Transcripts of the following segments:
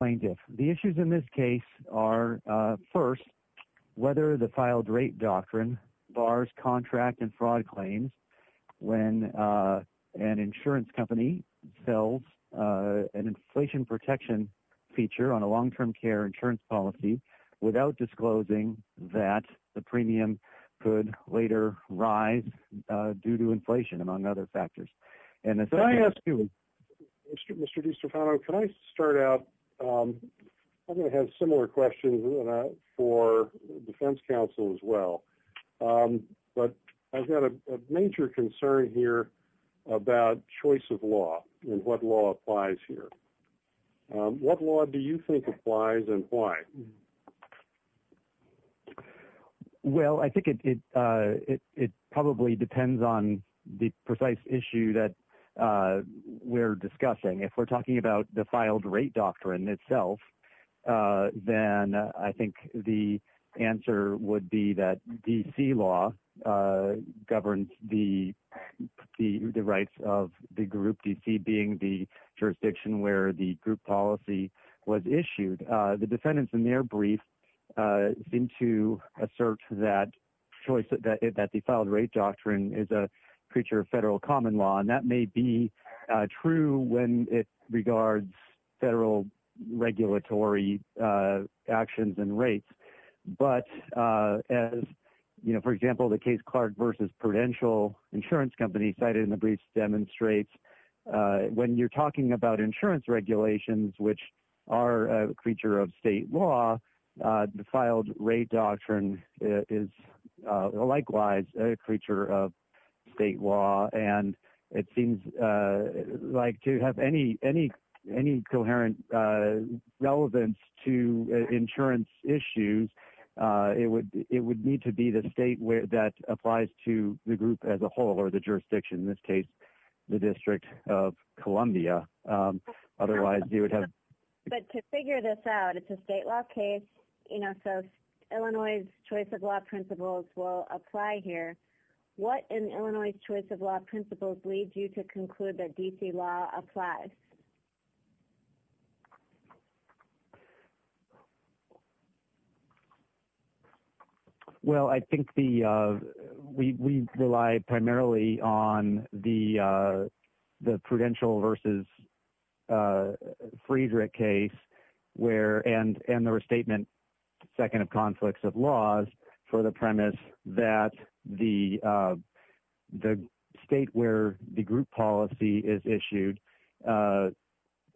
plaintiff. The issues in this case are, first, whether the filed rape doctrine bars contract and fraud claims when an insurance company sells an inflation protection feature on a long-term care insurance policy without disclosing that the premium could later rise due to inflation among other factors. And if I ask you, Mr. DiStefano, can I start out? I'm going to have similar questions for Defense Counsel as well. But I've got a major concern here about choice of law and what law applies here. What law do you think applies and why? Well, I think it probably depends on the precise issue that we're discussing. If we're talking about the filed rape doctrine itself, then I think the answer would be that D.C. law governs the rights of the group, D.C. being the defendants in their brief seem to assert that the filed rape doctrine is a creature of federal common law. And that may be true when it regards federal regulatory actions and rates. But as, you know, for example, the case Clark v. Prudential insurance company cited in the brief demonstrates, when you're talking about insurance regulations, which are a creature of state law, the filed rape doctrine is likewise a creature of state law. And it seems like to have any coherent relevance to insurance issues, it would need to be the state that applies to the group as a whole or the jurisdiction, in this case, the District of Columbia. Otherwise, you would have... But to figure this out, it's a state law case, you know, so Illinois' choice of law principles will apply here. What in Illinois' choice of law principles leads you to conclude that D.C. law applies? Well, I think we rely primarily on the Prudential v. Friedrich case and the restatement second of conflicts of laws for the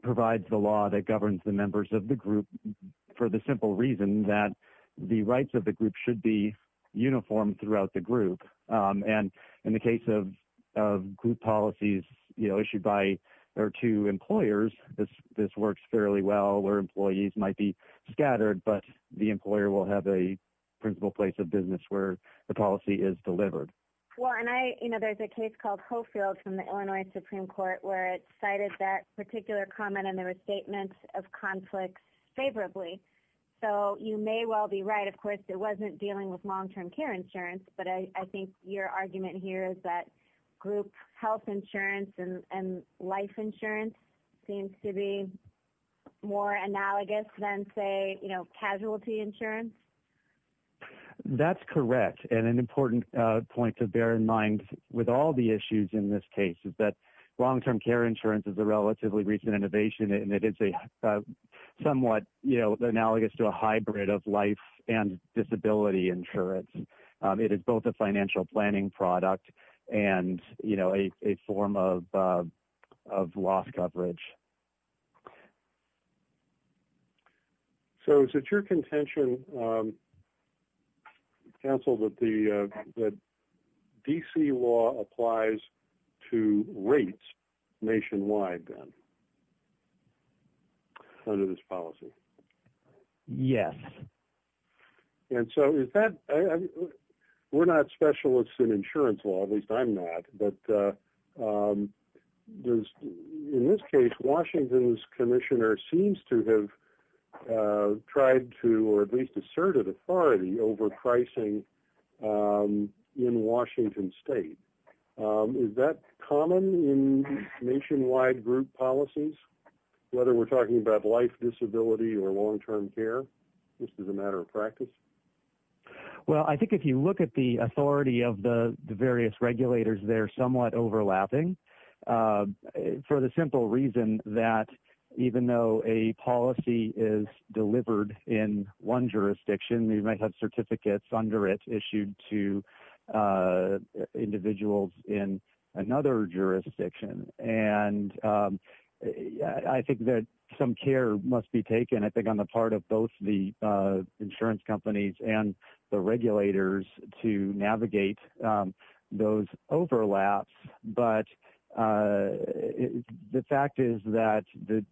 provides the law that governs the members of the group for the simple reason that the rights of the group should be uniform throughout the group. And in the case of group policies, you know, issued by their two employers, this works fairly well where employees might be scattered, but the employer will have a principal place of business where the policy is delivered. Well, and I, you know, there's a case called Hofield from the Illinois Supreme Court where it cited that particular comment and the restatement of conflicts favorably. So you may well be right. Of course, it wasn't dealing with long-term care insurance, but I think your argument here is that group health insurance and life insurance seems to be more analogous than, say, you know, casualty insurance. That's correct. And an important point to bear in mind with all the issues in this case is that long-term care insurance is a relatively recent innovation, and it is a somewhat, you know, analogous to a hybrid of life and disability insurance. It is both a financial planning product and, you know, a form of loss coverage. So is it your contention, counsel, that the D.C. law applies to rates nationwide then under this policy? Yes. And so is that, we're not specialists in insurance law, at least I'm not, but in this case, Washington's commissioner seems to have tried to, or at least asserted authority over pricing in Washington State. Is that common in nationwide group policies, whether we're talking about life, disability, or long-term care, just as a matter of practice? Well, I think if you look at the authority of the various regulators, they're somewhat overlapping for the simple reason that even though a policy is delivered in one jurisdiction, you might have certificates under it issued to individuals in another jurisdiction. And I think that some care must be taken, I think, on the part of both the insurance companies and the regulators to navigate those overlaps. But the fact is that the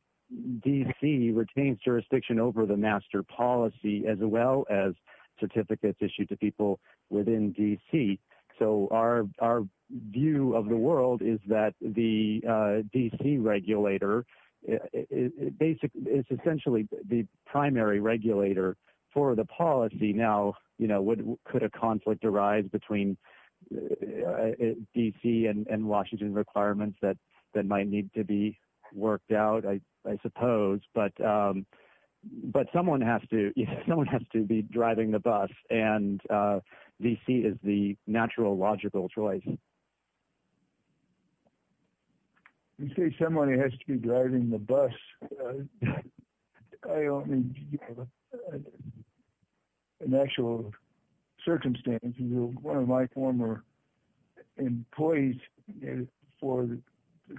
D.C. retains jurisdiction over the master policy as well as certificates issued to people within D.C. So our view of the world is that the D.C. regulator is essentially the primary regulator for the policy. Now, could a conflict arise between D.C. and Washington requirements that might need to be worked out, I suppose. But someone has to be driving the bus, and D.C. is the natural, logical choice. You say someone has to be driving the bus. In actual circumstances, one of my former employees for the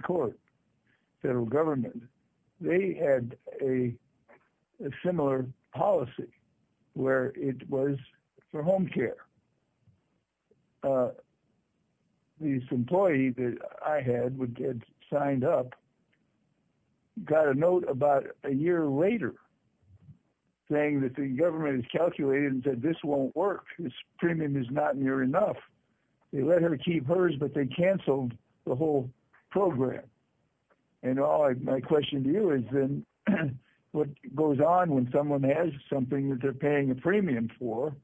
court, federal government, they had a similar policy where it was for home care. This employee that I had, who had signed up, got a note about a year later saying that the government has calculated and said this won't work, this premium is not near enough. They let her keep hers, but they canceled the whole program. And my question to you is then what goes on when someone has something that they're paying a premium for,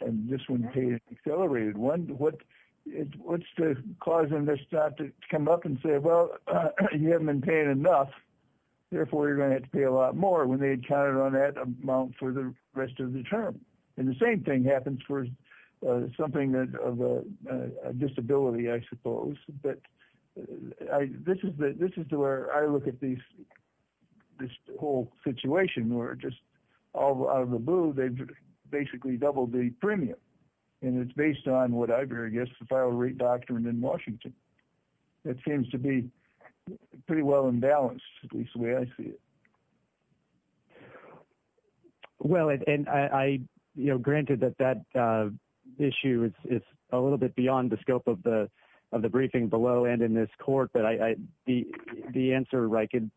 and this one is an accelerated one, what's causing this to come up and say, well, you haven't been paying enough, therefore you're going to have to pay a lot more when they had counted on that amount for the rest of the term. And the same thing happens for something of a disability, I suppose. But this is where I look at this whole situation where just out of the blue, they've basically doubled the premium, and it's based on what I've heard, I guess, the file rate doctrine in Washington. It seems to be pretty well in balance, at least the way I see it. Well, and granted that that issue is a little bit beyond the scope of the briefing below and in this court, but the answer I could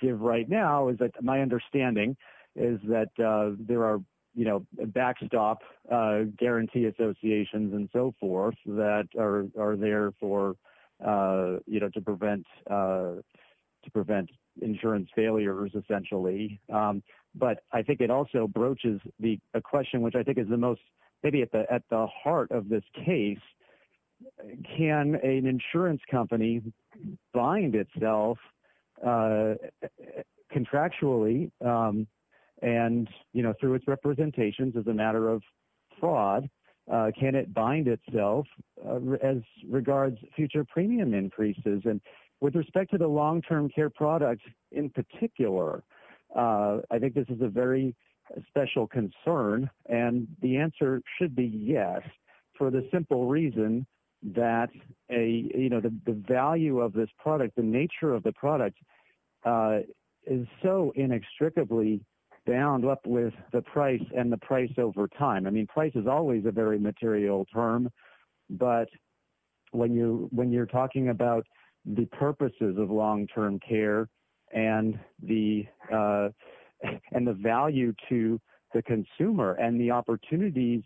give right now is that my understanding is that there are backstop guarantee associations and so forth that are there to prevent insurance failures, essentially. But I think it also broaches a question which I think is maybe at the heart of this case. Can an insurance company bind itself contractually and through its representations as a matter of fraud? Can it bind itself as regards future premium increases? And with respect to the long-term care product in particular, I think this is a very special concern, and the answer should be yes for the simple reason that the value of this product, the nature of the product, is so inextricably bound up with the price and the price over time. I mean, price is always a very material term, but when you're talking about the purposes of long-term care and the value to the consumer and the opportunities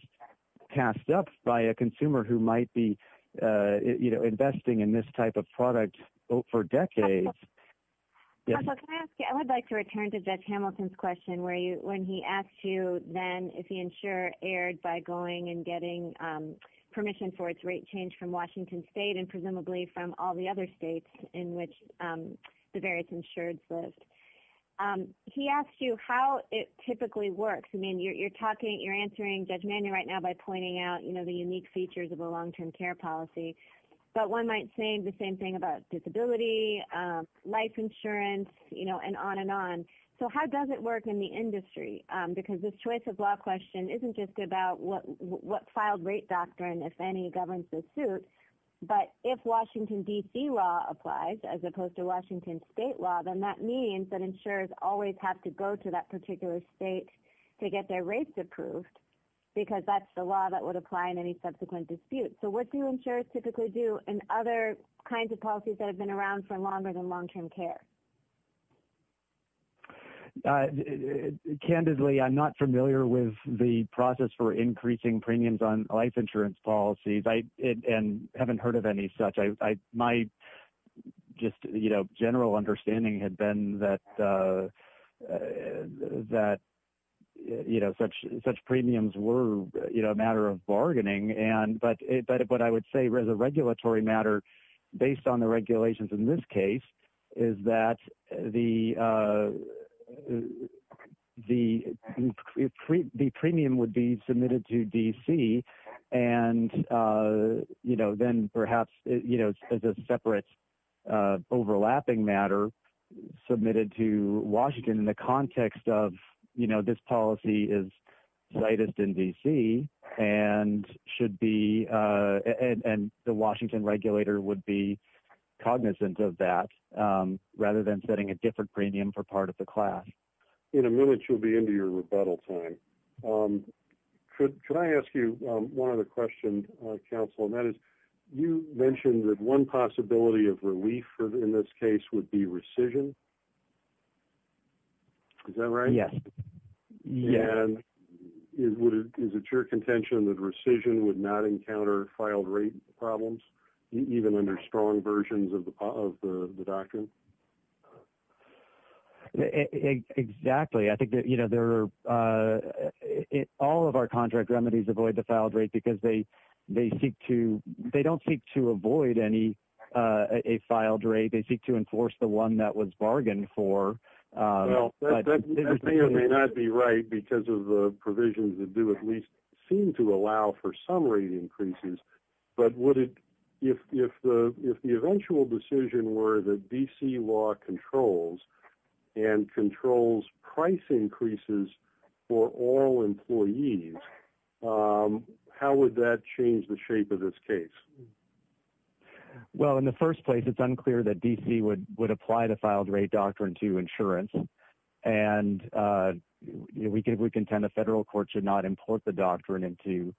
tasked up by a consumer who might be investing in this type of product for decades. I would like to return to Judge Hamilton's question when he asked you then if the insurer erred by going and getting permission for its rate change from Washington state and presumably from all the other states in which the various insureds lived. He asked you how it typically works. I mean, you're answering Judge Manuel right now by pointing out the unique features of a long-term care policy, but one might say the same thing about disability, life insurance, you know, and on and on. So how does it work in the industry? Because this choice of law question isn't just about what filed rate doctrine, if any, governs the suit, but if Washington, D.C. law applies as opposed to Washington state law, then that means that insurers always have to go to that particular state to get their rates approved because that's the law that would apply in any subsequent dispute. So what do insurers typically do in other kinds of policies that have been around for longer than long-term care? Candidly, I'm not familiar with the process for increasing premiums on life insurance policies and haven't heard of any such. My just general understanding had been that such premiums were a matter of bargaining, but what I would say as a regulatory matter based on the regulations in this case is that the premium would be submitted to D.C. and then perhaps as a separate overlapping matter submitted to Washington in the context of this policy is slightest in D.C. and the Washington regulator would be cognizant of that rather than setting a different premium for part of the class. In a minute, you'll be into your rebuttal time. Could I ask you one other question, counsel, and that is you mentioned that one possibility of relief in this case would be rescission. Is that right? Yes. And is it your contention that rescission would not encounter filed rate problems, even under strong versions of the doctrine? Exactly. I think that all of our contract remedies avoid the filed rate because they don't seek to avoid a filed rate. They seek to enforce the one that was bargained for. Well, that may or may not be right because of the provisions that do at least seem to allow for some rate increases, but if the eventual decision were that D.C. law controls and controls price increases for all employees, how would that change the shape of this case? Well, in the first place, it's unclear that D.C. would apply the filed rate doctrine to insurance, and we contend the federal court should not import the doctrine into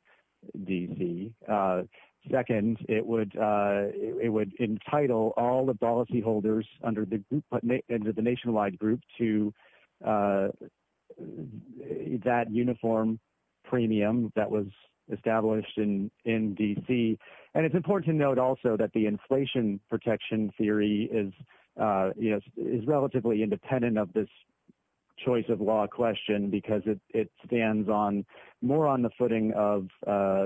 D.C. Second, it would entitle all the policyholders under the Nationwide Group to that uniform premium that was established in D.C. And it's important to note also that the inflation protection theory is relatively independent of this choice of law question because it stands more on the footing of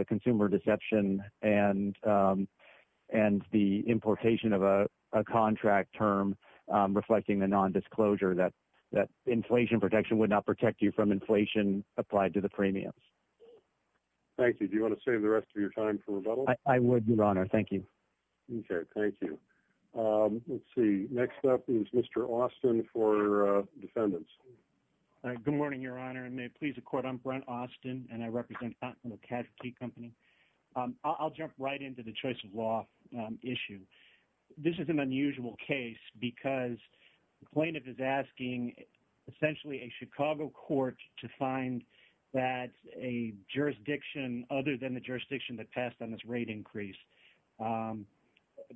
consumer deception and the importation of a contract term reflecting the nondisclosure that inflation protection would not protect you from inflation applied to the premiums. Thank you. Do you want to save the rest of your time for rebuttal? I would, Your Honor. Thank you. Okay. Thank you. Let's see. Next up is Mr. Austin for defendants. Good morning, Your Honor. And may it please the Court, I'm Brent Austin, and I represent the Casualty Company. I'll jump right into the choice of law issue. This is an unusual case because the plaintiff is asking essentially a Chicago court to find that a jurisdiction other than the jurisdiction that passed on this rate increase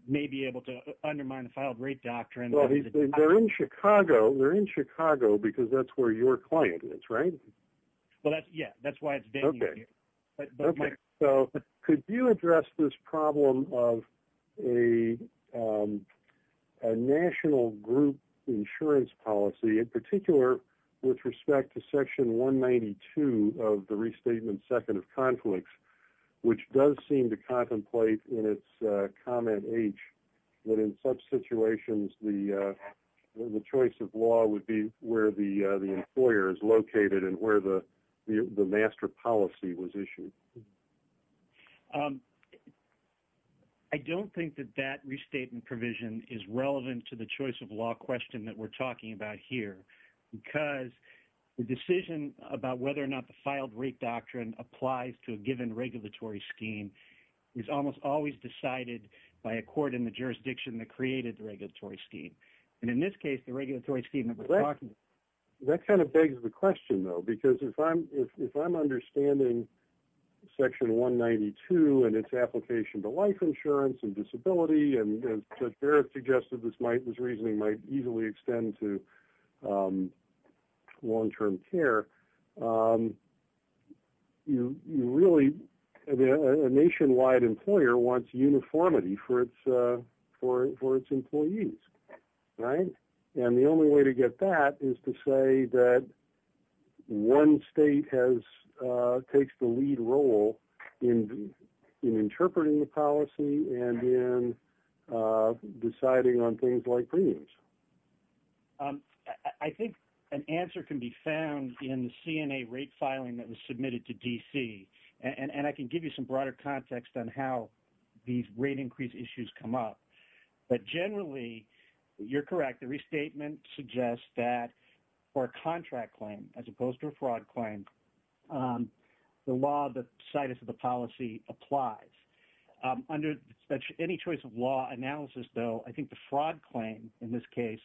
may be able to undermine the filed rate doctrine. Well, they're in Chicago. They're in Chicago because that's where your client is, right? Well, yeah. That's why it's venue here. Okay. So could you address this problem of a national group insurance policy, in particular with respect to Section 192 of the Restatement Second of Conflicts, which does seem to contemplate in its comment H that in such situations the choice of law would be where the employer is located and where the master policy was issued? I don't think that that restatement provision is relevant to the choice of law question that we're talking about here because the decision about whether or not the filed rate doctrine applies to a given regulatory scheme is almost always decided by a court in the jurisdiction that created the regulatory scheme. And in this case, the regulatory scheme that we're talking about. That kind of begs the question, though, because if I'm understanding Section 192 and its application to life insurance and disability, and Judge Barrett suggested this reasoning might easily extend to long-term care, you really – a nationwide employer wants uniformity for its employees. Right? And the only way to get that is to say that one state has – takes the lead role in interpreting the policy and in deciding on things like premiums. I think an answer can be found in the CNA rate filing that was submitted to D.C. And I can give you some broader context on how these rate increase issues come up. But generally, you're correct. The restatement suggests that for a contract claim as opposed to a fraud claim, the law, the status of the policy applies. Under any choice of law analysis, though, I think the fraud claim in this case,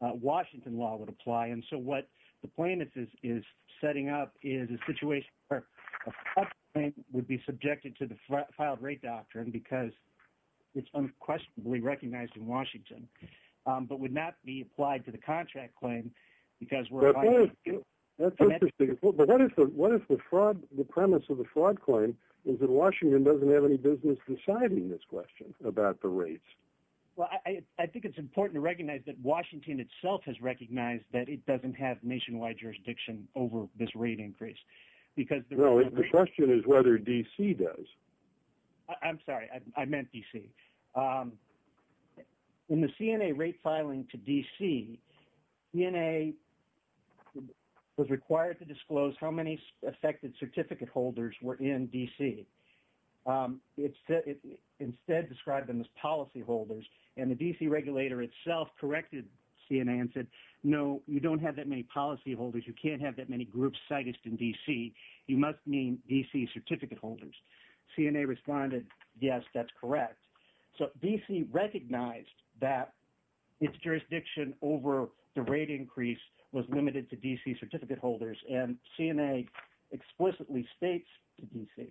Washington law would apply. And so what the plaintiff is setting up is a situation where a fraud claim would be subjected to the filed rate doctrine because it's unquestionably recognized in Washington but would not be applied to the contract claim because we're – But what if the fraud – the premise of the fraud claim is that Washington doesn't have any business deciding this question about the rates? Well, I think it's important to recognize that Washington itself has recognized that it doesn't have nationwide jurisdiction over this rate increase because – No, the question is whether D.C. does. I'm sorry. I meant D.C. In the CNA rate filing to D.C., CNA was required to disclose how many affected certificate holders were in D.C. It instead described them as policyholders, and the D.C. regulator itself corrected CNA and said, no, you don't have that many policyholders. You can't have that many groups cited in D.C. You must mean D.C. certificate holders. CNA responded, yes, that's correct. So D.C. recognized that its jurisdiction over the rate increase was limited to D.C. certificate holders. And CNA explicitly states to D.C.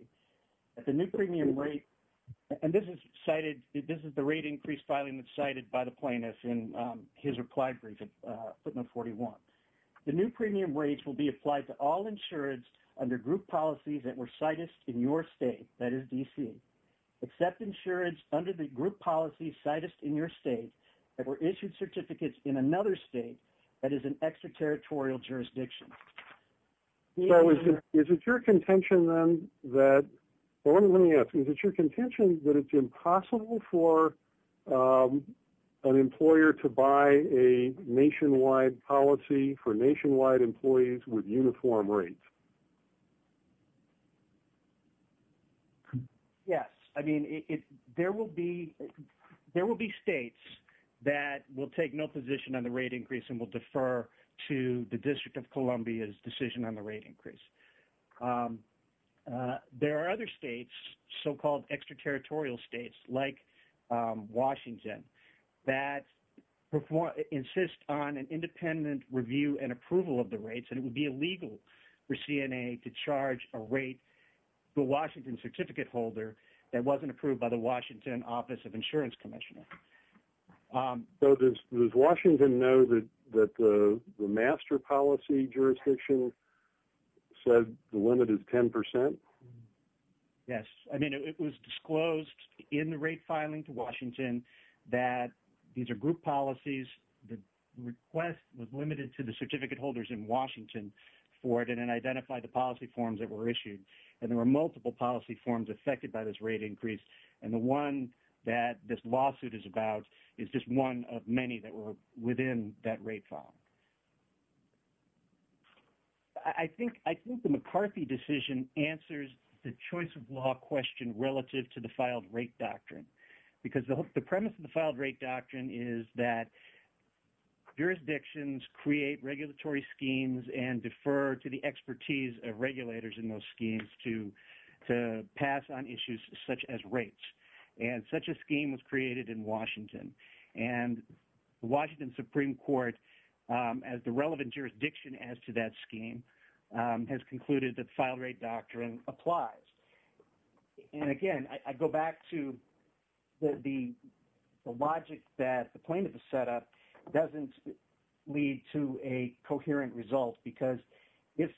that the new premium rate – and this is cited – this is the rate increase filing that's cited by the plaintiff in his reply briefing, footnote 41. The new premium rates will be applied to all insureds under group policies that were cited in your state, that is D.C. Except insureds under the group policies cited in your state that were issued certificates in another state that is an extraterritorial jurisdiction. So is it your contention then that – let me ask, is it your contention that it's impossible for an employer to buy a nationwide policy for nationwide employees with uniform rates? Yes. I mean, there will be states that will take no position on the rate increase and will defer to the District of Columbia's decision on the rate increase. There are other states, so-called extraterritorial states like Washington, that insist on an independent review and approval of the rates. And it would be illegal for CNA to charge a rate to a Washington certificate holder that wasn't approved by the Washington Office of Insurance Commissioner. So does Washington know that the master policy jurisdiction said the limit is 10 percent? Yes. I mean, it was disclosed in the rate filing to Washington that these are group policies. The request was limited to the certificate holders in Washington for it, and it identified the policy forms that were issued. And there were multiple policy forms affected by this rate increase. And the one that this lawsuit is about is just one of many that were within that rate file. I think the McCarthy decision answers the choice of law question relative to the filed rate doctrine. Because the premise of the filed rate doctrine is that jurisdictions create regulatory schemes and defer to the expertise of regulators in those schemes to pass on issues such as rates. And such a scheme was created in Washington. And the Washington Supreme Court, as the relevant jurisdiction as to that scheme, has concluded that the filed rate doctrine applies. And, again, I go back to the logic that the plaintiff has set up doesn't lead to a coherent result. Because if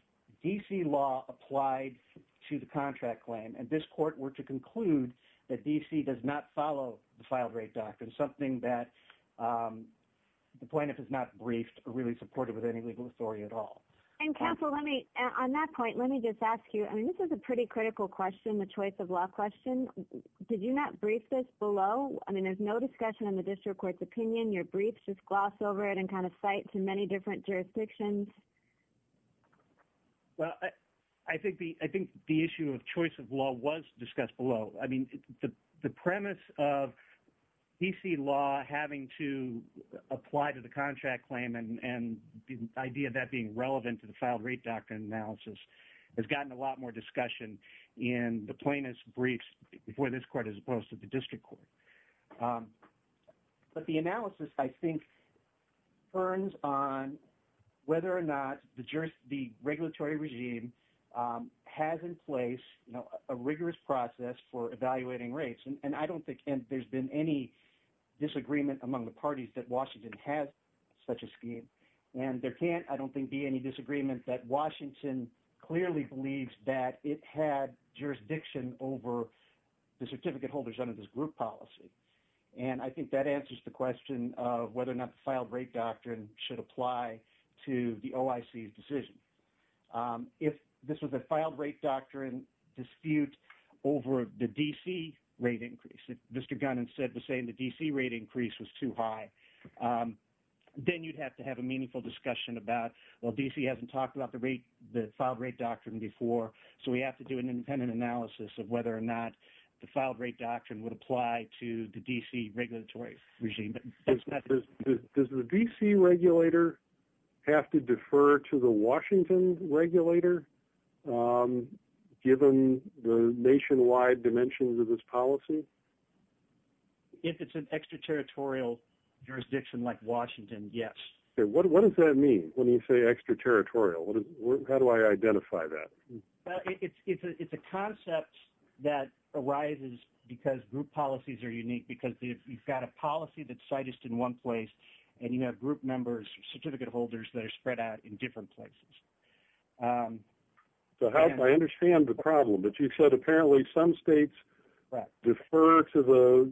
D.C. law applied to the contract claim and this court were to conclude that D.C. does not follow the filed rate doctrine, something that the plaintiff has not briefed or really supported with any legal authority at all. And, Counsel, on that point, let me just ask you, I mean, this is a pretty critical question, the choice of law question. Did you not brief this below? I mean, there's no discussion in the district court's opinion. Your briefs just gloss over it and kind of cite to many different jurisdictions. Well, I think the issue of choice of law was discussed below. I mean, the premise of D.C. law having to apply to the contract claim and the idea of that being relevant to the filed rate doctrine analysis has gotten a lot more discussion in the plaintiff's briefs before this court as opposed to the district court. But the analysis, I think, turns on whether or not the regulatory regime has in place a rigorous process for evaluating rates. And I don't think there's been any disagreement among the parties that Washington has such a scheme. And there can't, I don't think, be any disagreement that Washington clearly believes that it had jurisdiction over the certificate holders under this group policy. And I think that answers the question of whether or not the filed rate doctrine should apply to the OIC's decision. If this was a filed rate doctrine dispute over the D.C. rate increase, if Mr. Gunn instead was saying the D.C. rate increase was too high, then you'd have to have a meaningful discussion about, well, D.C. hasn't talked about the filed rate doctrine before. So we have to do an independent analysis of whether or not the filed rate doctrine would apply to the D.C. regulatory regime. Does the D.C. regulator have to defer to the Washington regulator, given the nationwide dimensions of this policy? If it's an extraterritorial jurisdiction like Washington, yes. What does that mean when you say extraterritorial? How do I identify that? It's a concept that arises because group policies are unique, because you've got a policy that's cited in one place, and you have group members, certificate holders that are spread out in different places. I understand the problem, but you said apparently some states defer to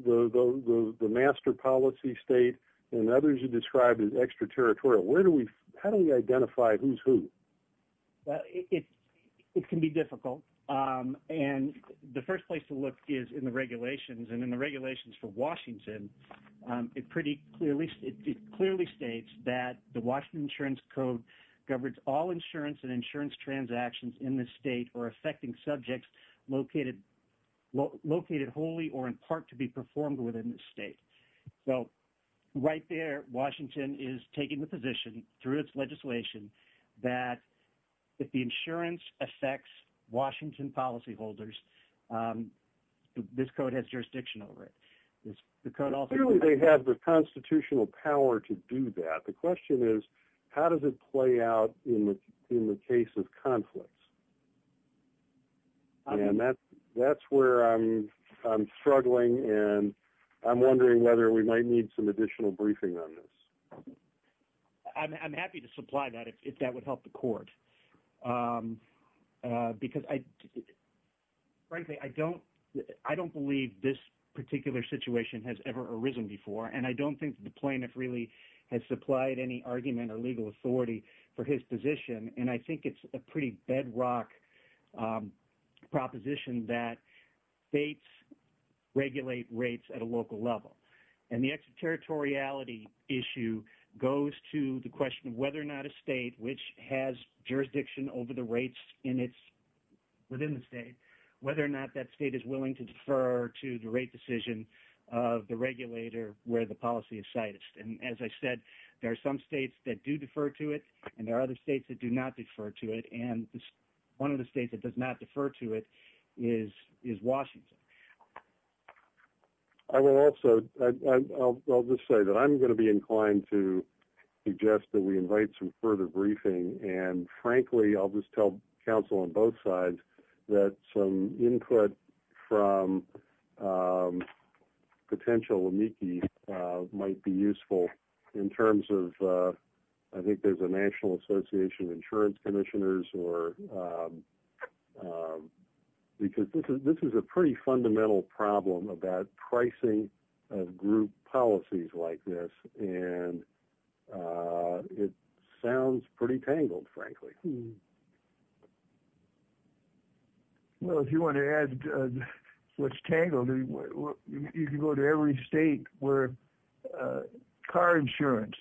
the master policy state, and others you described as extraterritorial. How do we identify who's who? It can be difficult, and the first place to look is in the regulations. In the regulations for Washington, it clearly states that the Washington Insurance Code governs all insurance and insurance transactions in the state or affecting subjects located wholly or in part to be performed within the state. Right there, Washington is taking the position, through its legislation, that if the insurance affects Washington policyholders, this code has jurisdiction over it. Clearly they have the constitutional power to do that. The question is, how does it play out in the case of conflicts? That's where I'm struggling, and I'm wondering whether we might need some additional briefing on this. I'm happy to supply that if that would help the court. Frankly, I don't believe this particular situation has ever arisen before, and I don't think the plaintiff really has supplied any argument or legal authority for his position. I think it's a pretty bedrock proposition that states regulate rates at a local level. The extraterritoriality issue goes to the question of whether or not a state which has jurisdiction over the rates within the state, whether or not that state is willing to defer to the rate decision of the regulator where the policy is cited. As I said, there are some states that do defer to it, and there are other states that do not defer to it. One of the states that does not defer to it is Washington. I'll just say that I'm going to be inclined to suggest that we invite some further briefing, and frankly, I'll just tell counsel on both sides that some input from potential amici might be useful in terms of, I think there's a National Association of Insurance Commissioners. This is a pretty fundamental problem about pricing of group policies like this, and it sounds pretty tangled, frankly. Well, if you want to add what's tangled, you can go to every state where car insurance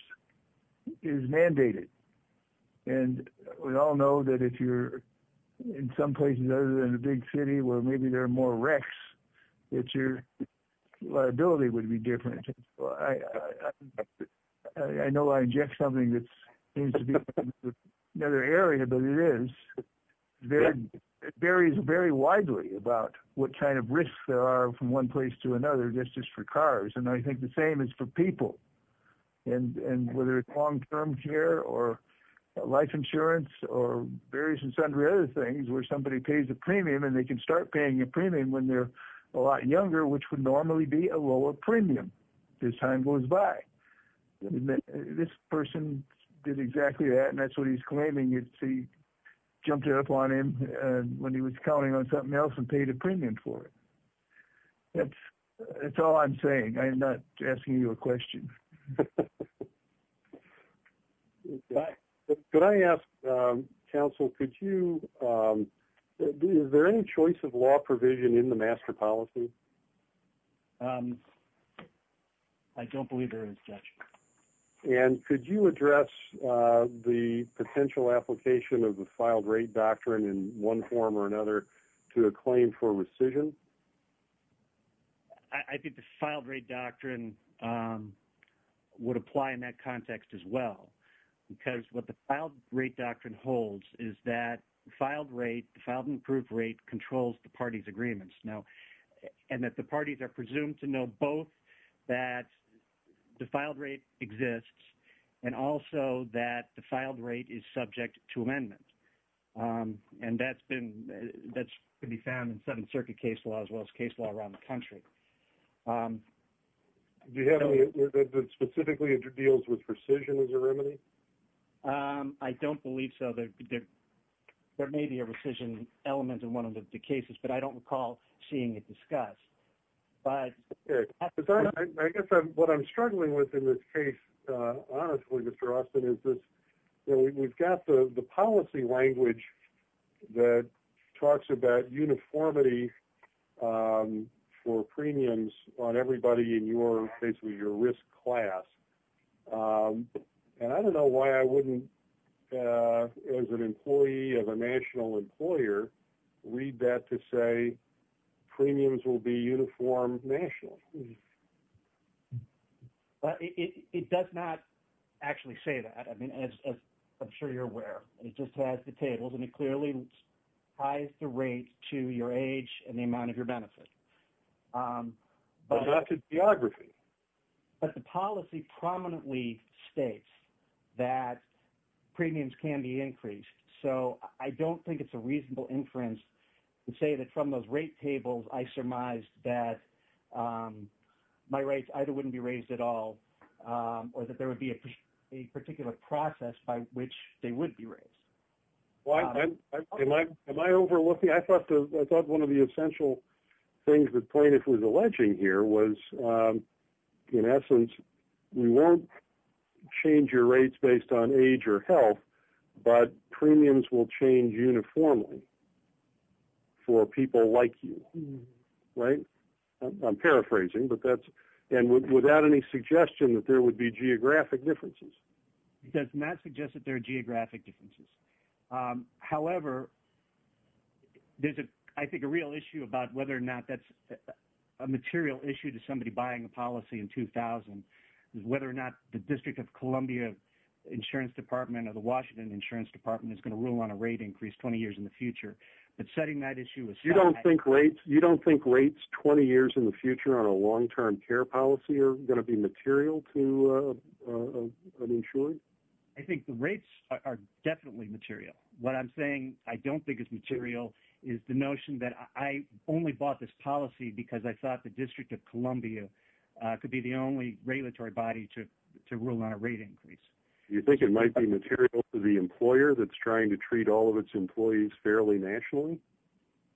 is mandated, and we all know that if you're in some places other than a big city where maybe there are more wrecks, that your liability would be different. I know I inject something that seems to be another area, but it is. It varies very widely about what kind of risks there are from one place to another, just as for cars, and I think the same is for people. And whether it's long-term care or life insurance or various and sundry other things where somebody pays a premium and they can start paying a premium when they're a lot younger, which would normally be a lower premium as time goes by. This person did exactly that, and that's what he's claiming. He jumped up on him when he was counting on something else and paid a premium for it. That's all I'm saying. I'm not asking you a question. Could I ask, counsel, is there any choice of law provision in the master policy? I don't believe there is, Judge. And could you address the potential application of the filed rate doctrine in one form or another to a claim for rescission? I think the filed rate doctrine would apply in that context as well, because what the filed rate doctrine holds is that the filed rate, the filed and approved rate controls the party's agreements. Now, and that the parties are presumed to know both that the filed rate exists and also that the filed rate is subject to amendment. And that's been, that's been found in Seventh Circuit case law as well as case law around the country. Do you have any, specifically it deals with rescission as a remedy? I don't believe so. There may be a rescission element in one of the cases, but I don't recall seeing it discussed. I guess what I'm struggling with in this case, honestly, Mr. Austin, is that we've got the policy language that talks about uniformity for premiums on everybody in your, basically your risk class. And I don't know why I wouldn't, as an employee of a national employer, read that to say premiums will be uniformed nationally. But it does not actually say that. I mean, as I'm sure you're aware, it just has the tables and it clearly ties the rate to your age and the amount of your benefit. But not to geography. But the policy prominently states that premiums can be increased. So I don't think it's a reasonable inference to say that from those rate tables I surmised that my rates either wouldn't be raised at all or that there would be a particular process by which they would be raised. Am I overlooking? I thought one of the essential things the plaintiff was alleging here was, in essence, you won't change your rates based on age or health, but premiums will change uniformly for people like you. Right? I'm paraphrasing. And without any suggestion that there would be geographic differences. It does not suggest that there are geographic differences. However, there's, I think, a real issue about whether or not that's a material issue to somebody buying a policy in 2000, is whether or not the District of Columbia Insurance Department or the Washington Insurance Department is going to rule on a rate increase 20 years in the future. You don't think rates 20 years in the future on a long-term care policy are going to be material to an insurer? I think the rates are definitely material. What I'm saying I don't think is material is the notion that I only bought this policy because I thought the District of Columbia could be the only regulatory body to rule on a rate increase. You think it might be material to the employer that's trying to treat all of its employees fairly nationally?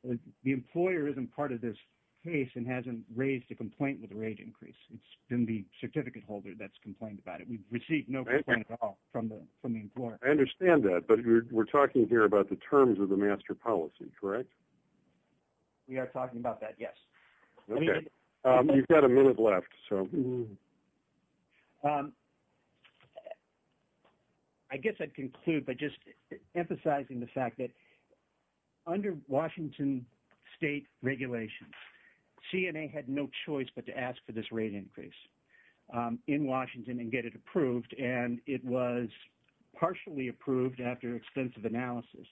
The employer isn't part of this case and hasn't raised a complaint with a rate increase. It's been the certificate holder that's complained about it. We've received no complaint at all from the employer. I understand that, but we're talking here about the terms of the master policy, correct? We are talking about that, yes. Okay. You've got a minute left. I guess I'd conclude by just emphasizing the fact that under Washington state regulations, CNA had no choice but to ask for this rate increase in Washington and get it approved. It was partially approved after extensive analysis.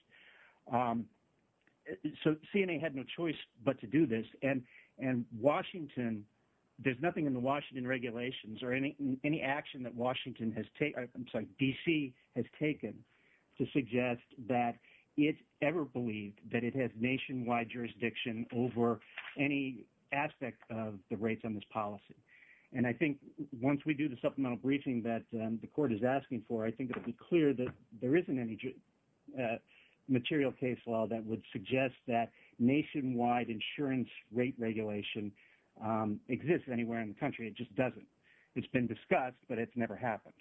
CNA had no choice but to do this. There's nothing in the Washington regulations or any action that DC has taken to suggest that it ever believed that it has nationwide jurisdiction over any aspect of the rates on this policy. Once we do the supplemental briefing that the court is asking for, I think it'll be clear that there isn't any material case law that would suggest that nationwide insurance rate regulation exists anywhere in the country. It just doesn't. It's been discussed, but it's never happened.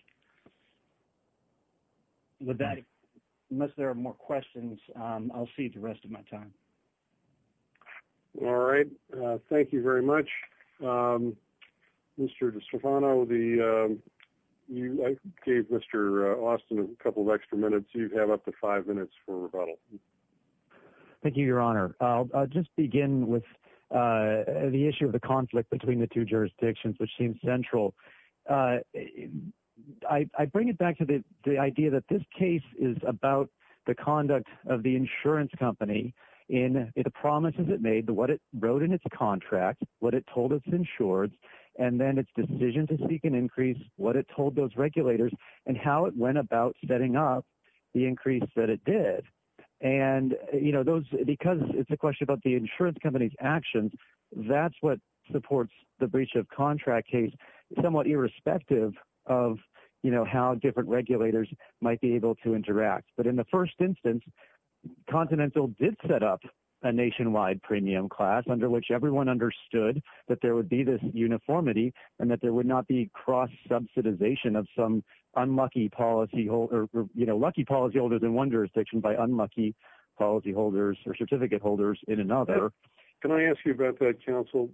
With that, unless there are more questions, I'll see you for the rest of my time. All right. Thank you very much. Mr. DiStefano, I gave Mr. Austin a couple of extra minutes. You have up to five minutes for rebuttal. Thank you, Your Honor. I'll just begin with the issue of the conflict between the two jurisdictions, which seems central. I bring it back to the idea that this case is about the conduct of the insurance company and the promises it made, what it wrote in its contract, what it told its insureds, and then its decision to seek an increase, what it told those regulators, and how it went about setting up the increase that it did. Because it's a question about the insurance company's actions, that's what supports the breach of contract case, somewhat irrespective of how different regulators might be able to interact. But in the first instance, Continental did set up a nationwide premium class under which everyone understood that there would be this uniformity and that there would not be cross-subsidization of some unlucky policyholders in one jurisdiction by unlucky policyholders or certificate holders in another. Can I ask you about that, counsel?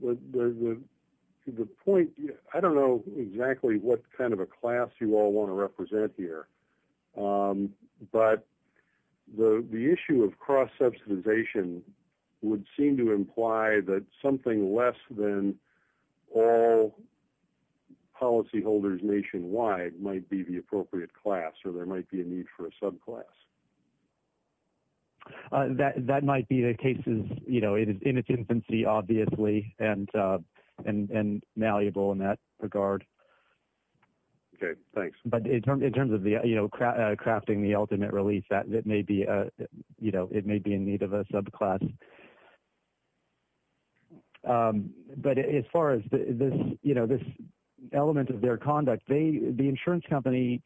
I don't know exactly what kind of a class you all want to represent here, but the issue of cross-subsidization would seem to imply that something less than all policyholders nationwide might be the appropriate class or there might be a need for a subclass. That might be the case in its infancy, obviously, and malleable in that regard. Okay, thanks. But in terms of crafting the ultimate release, it may be in need of a subclass. But as far as this element of their conduct, the insurance company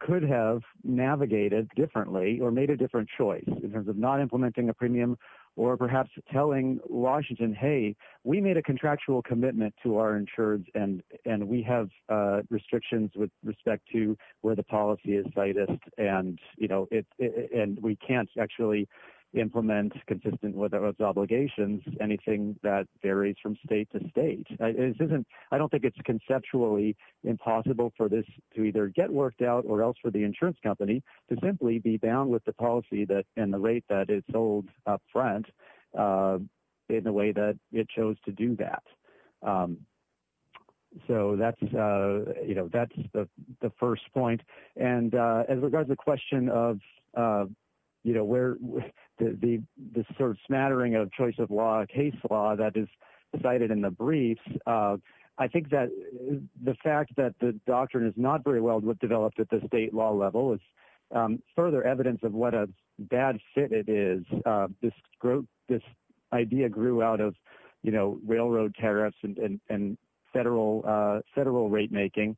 could have navigated differently or made a different choice in terms of not implementing a premium or perhaps telling Washington, hey, we made a contractual commitment to our insurance and we have restrictions with respect to where the policy is slightest. And we can't actually implement consistent with those obligations anything that varies from state to state. I don't think it's conceptually impossible for this to either get worked out or else for the insurance company to simply be bound with the policy and the rate that it's sold up front in the way that it chose to do that. So that's the first point. And as regards the question of where the sort of smattering of choice of law, case law that is cited in the briefs, I think that the fact that the doctrine is not very well developed at the state law level is further evidence of what a bad fit it is. This idea grew out of railroad tariffs and federal rate making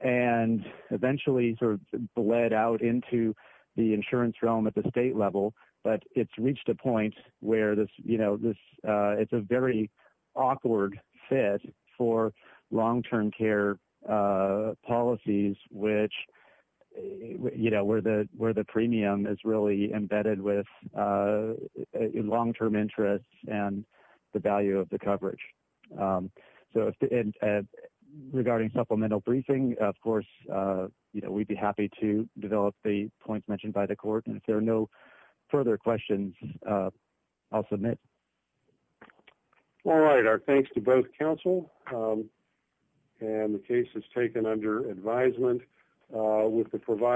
and eventually sort of bled out into the insurance realm at the state level. But it's reached a point where it's a very awkward fit for long-term care policies where the premium is really embedded with long-term interests and the value of the coverage. So regarding supplemental briefing, of course, we'd be happy to develop the points mentioned by the court. And if there are no further questions, I'll submit. All right. Our thanks to both counsel. And the case is taken under advisement with the provider.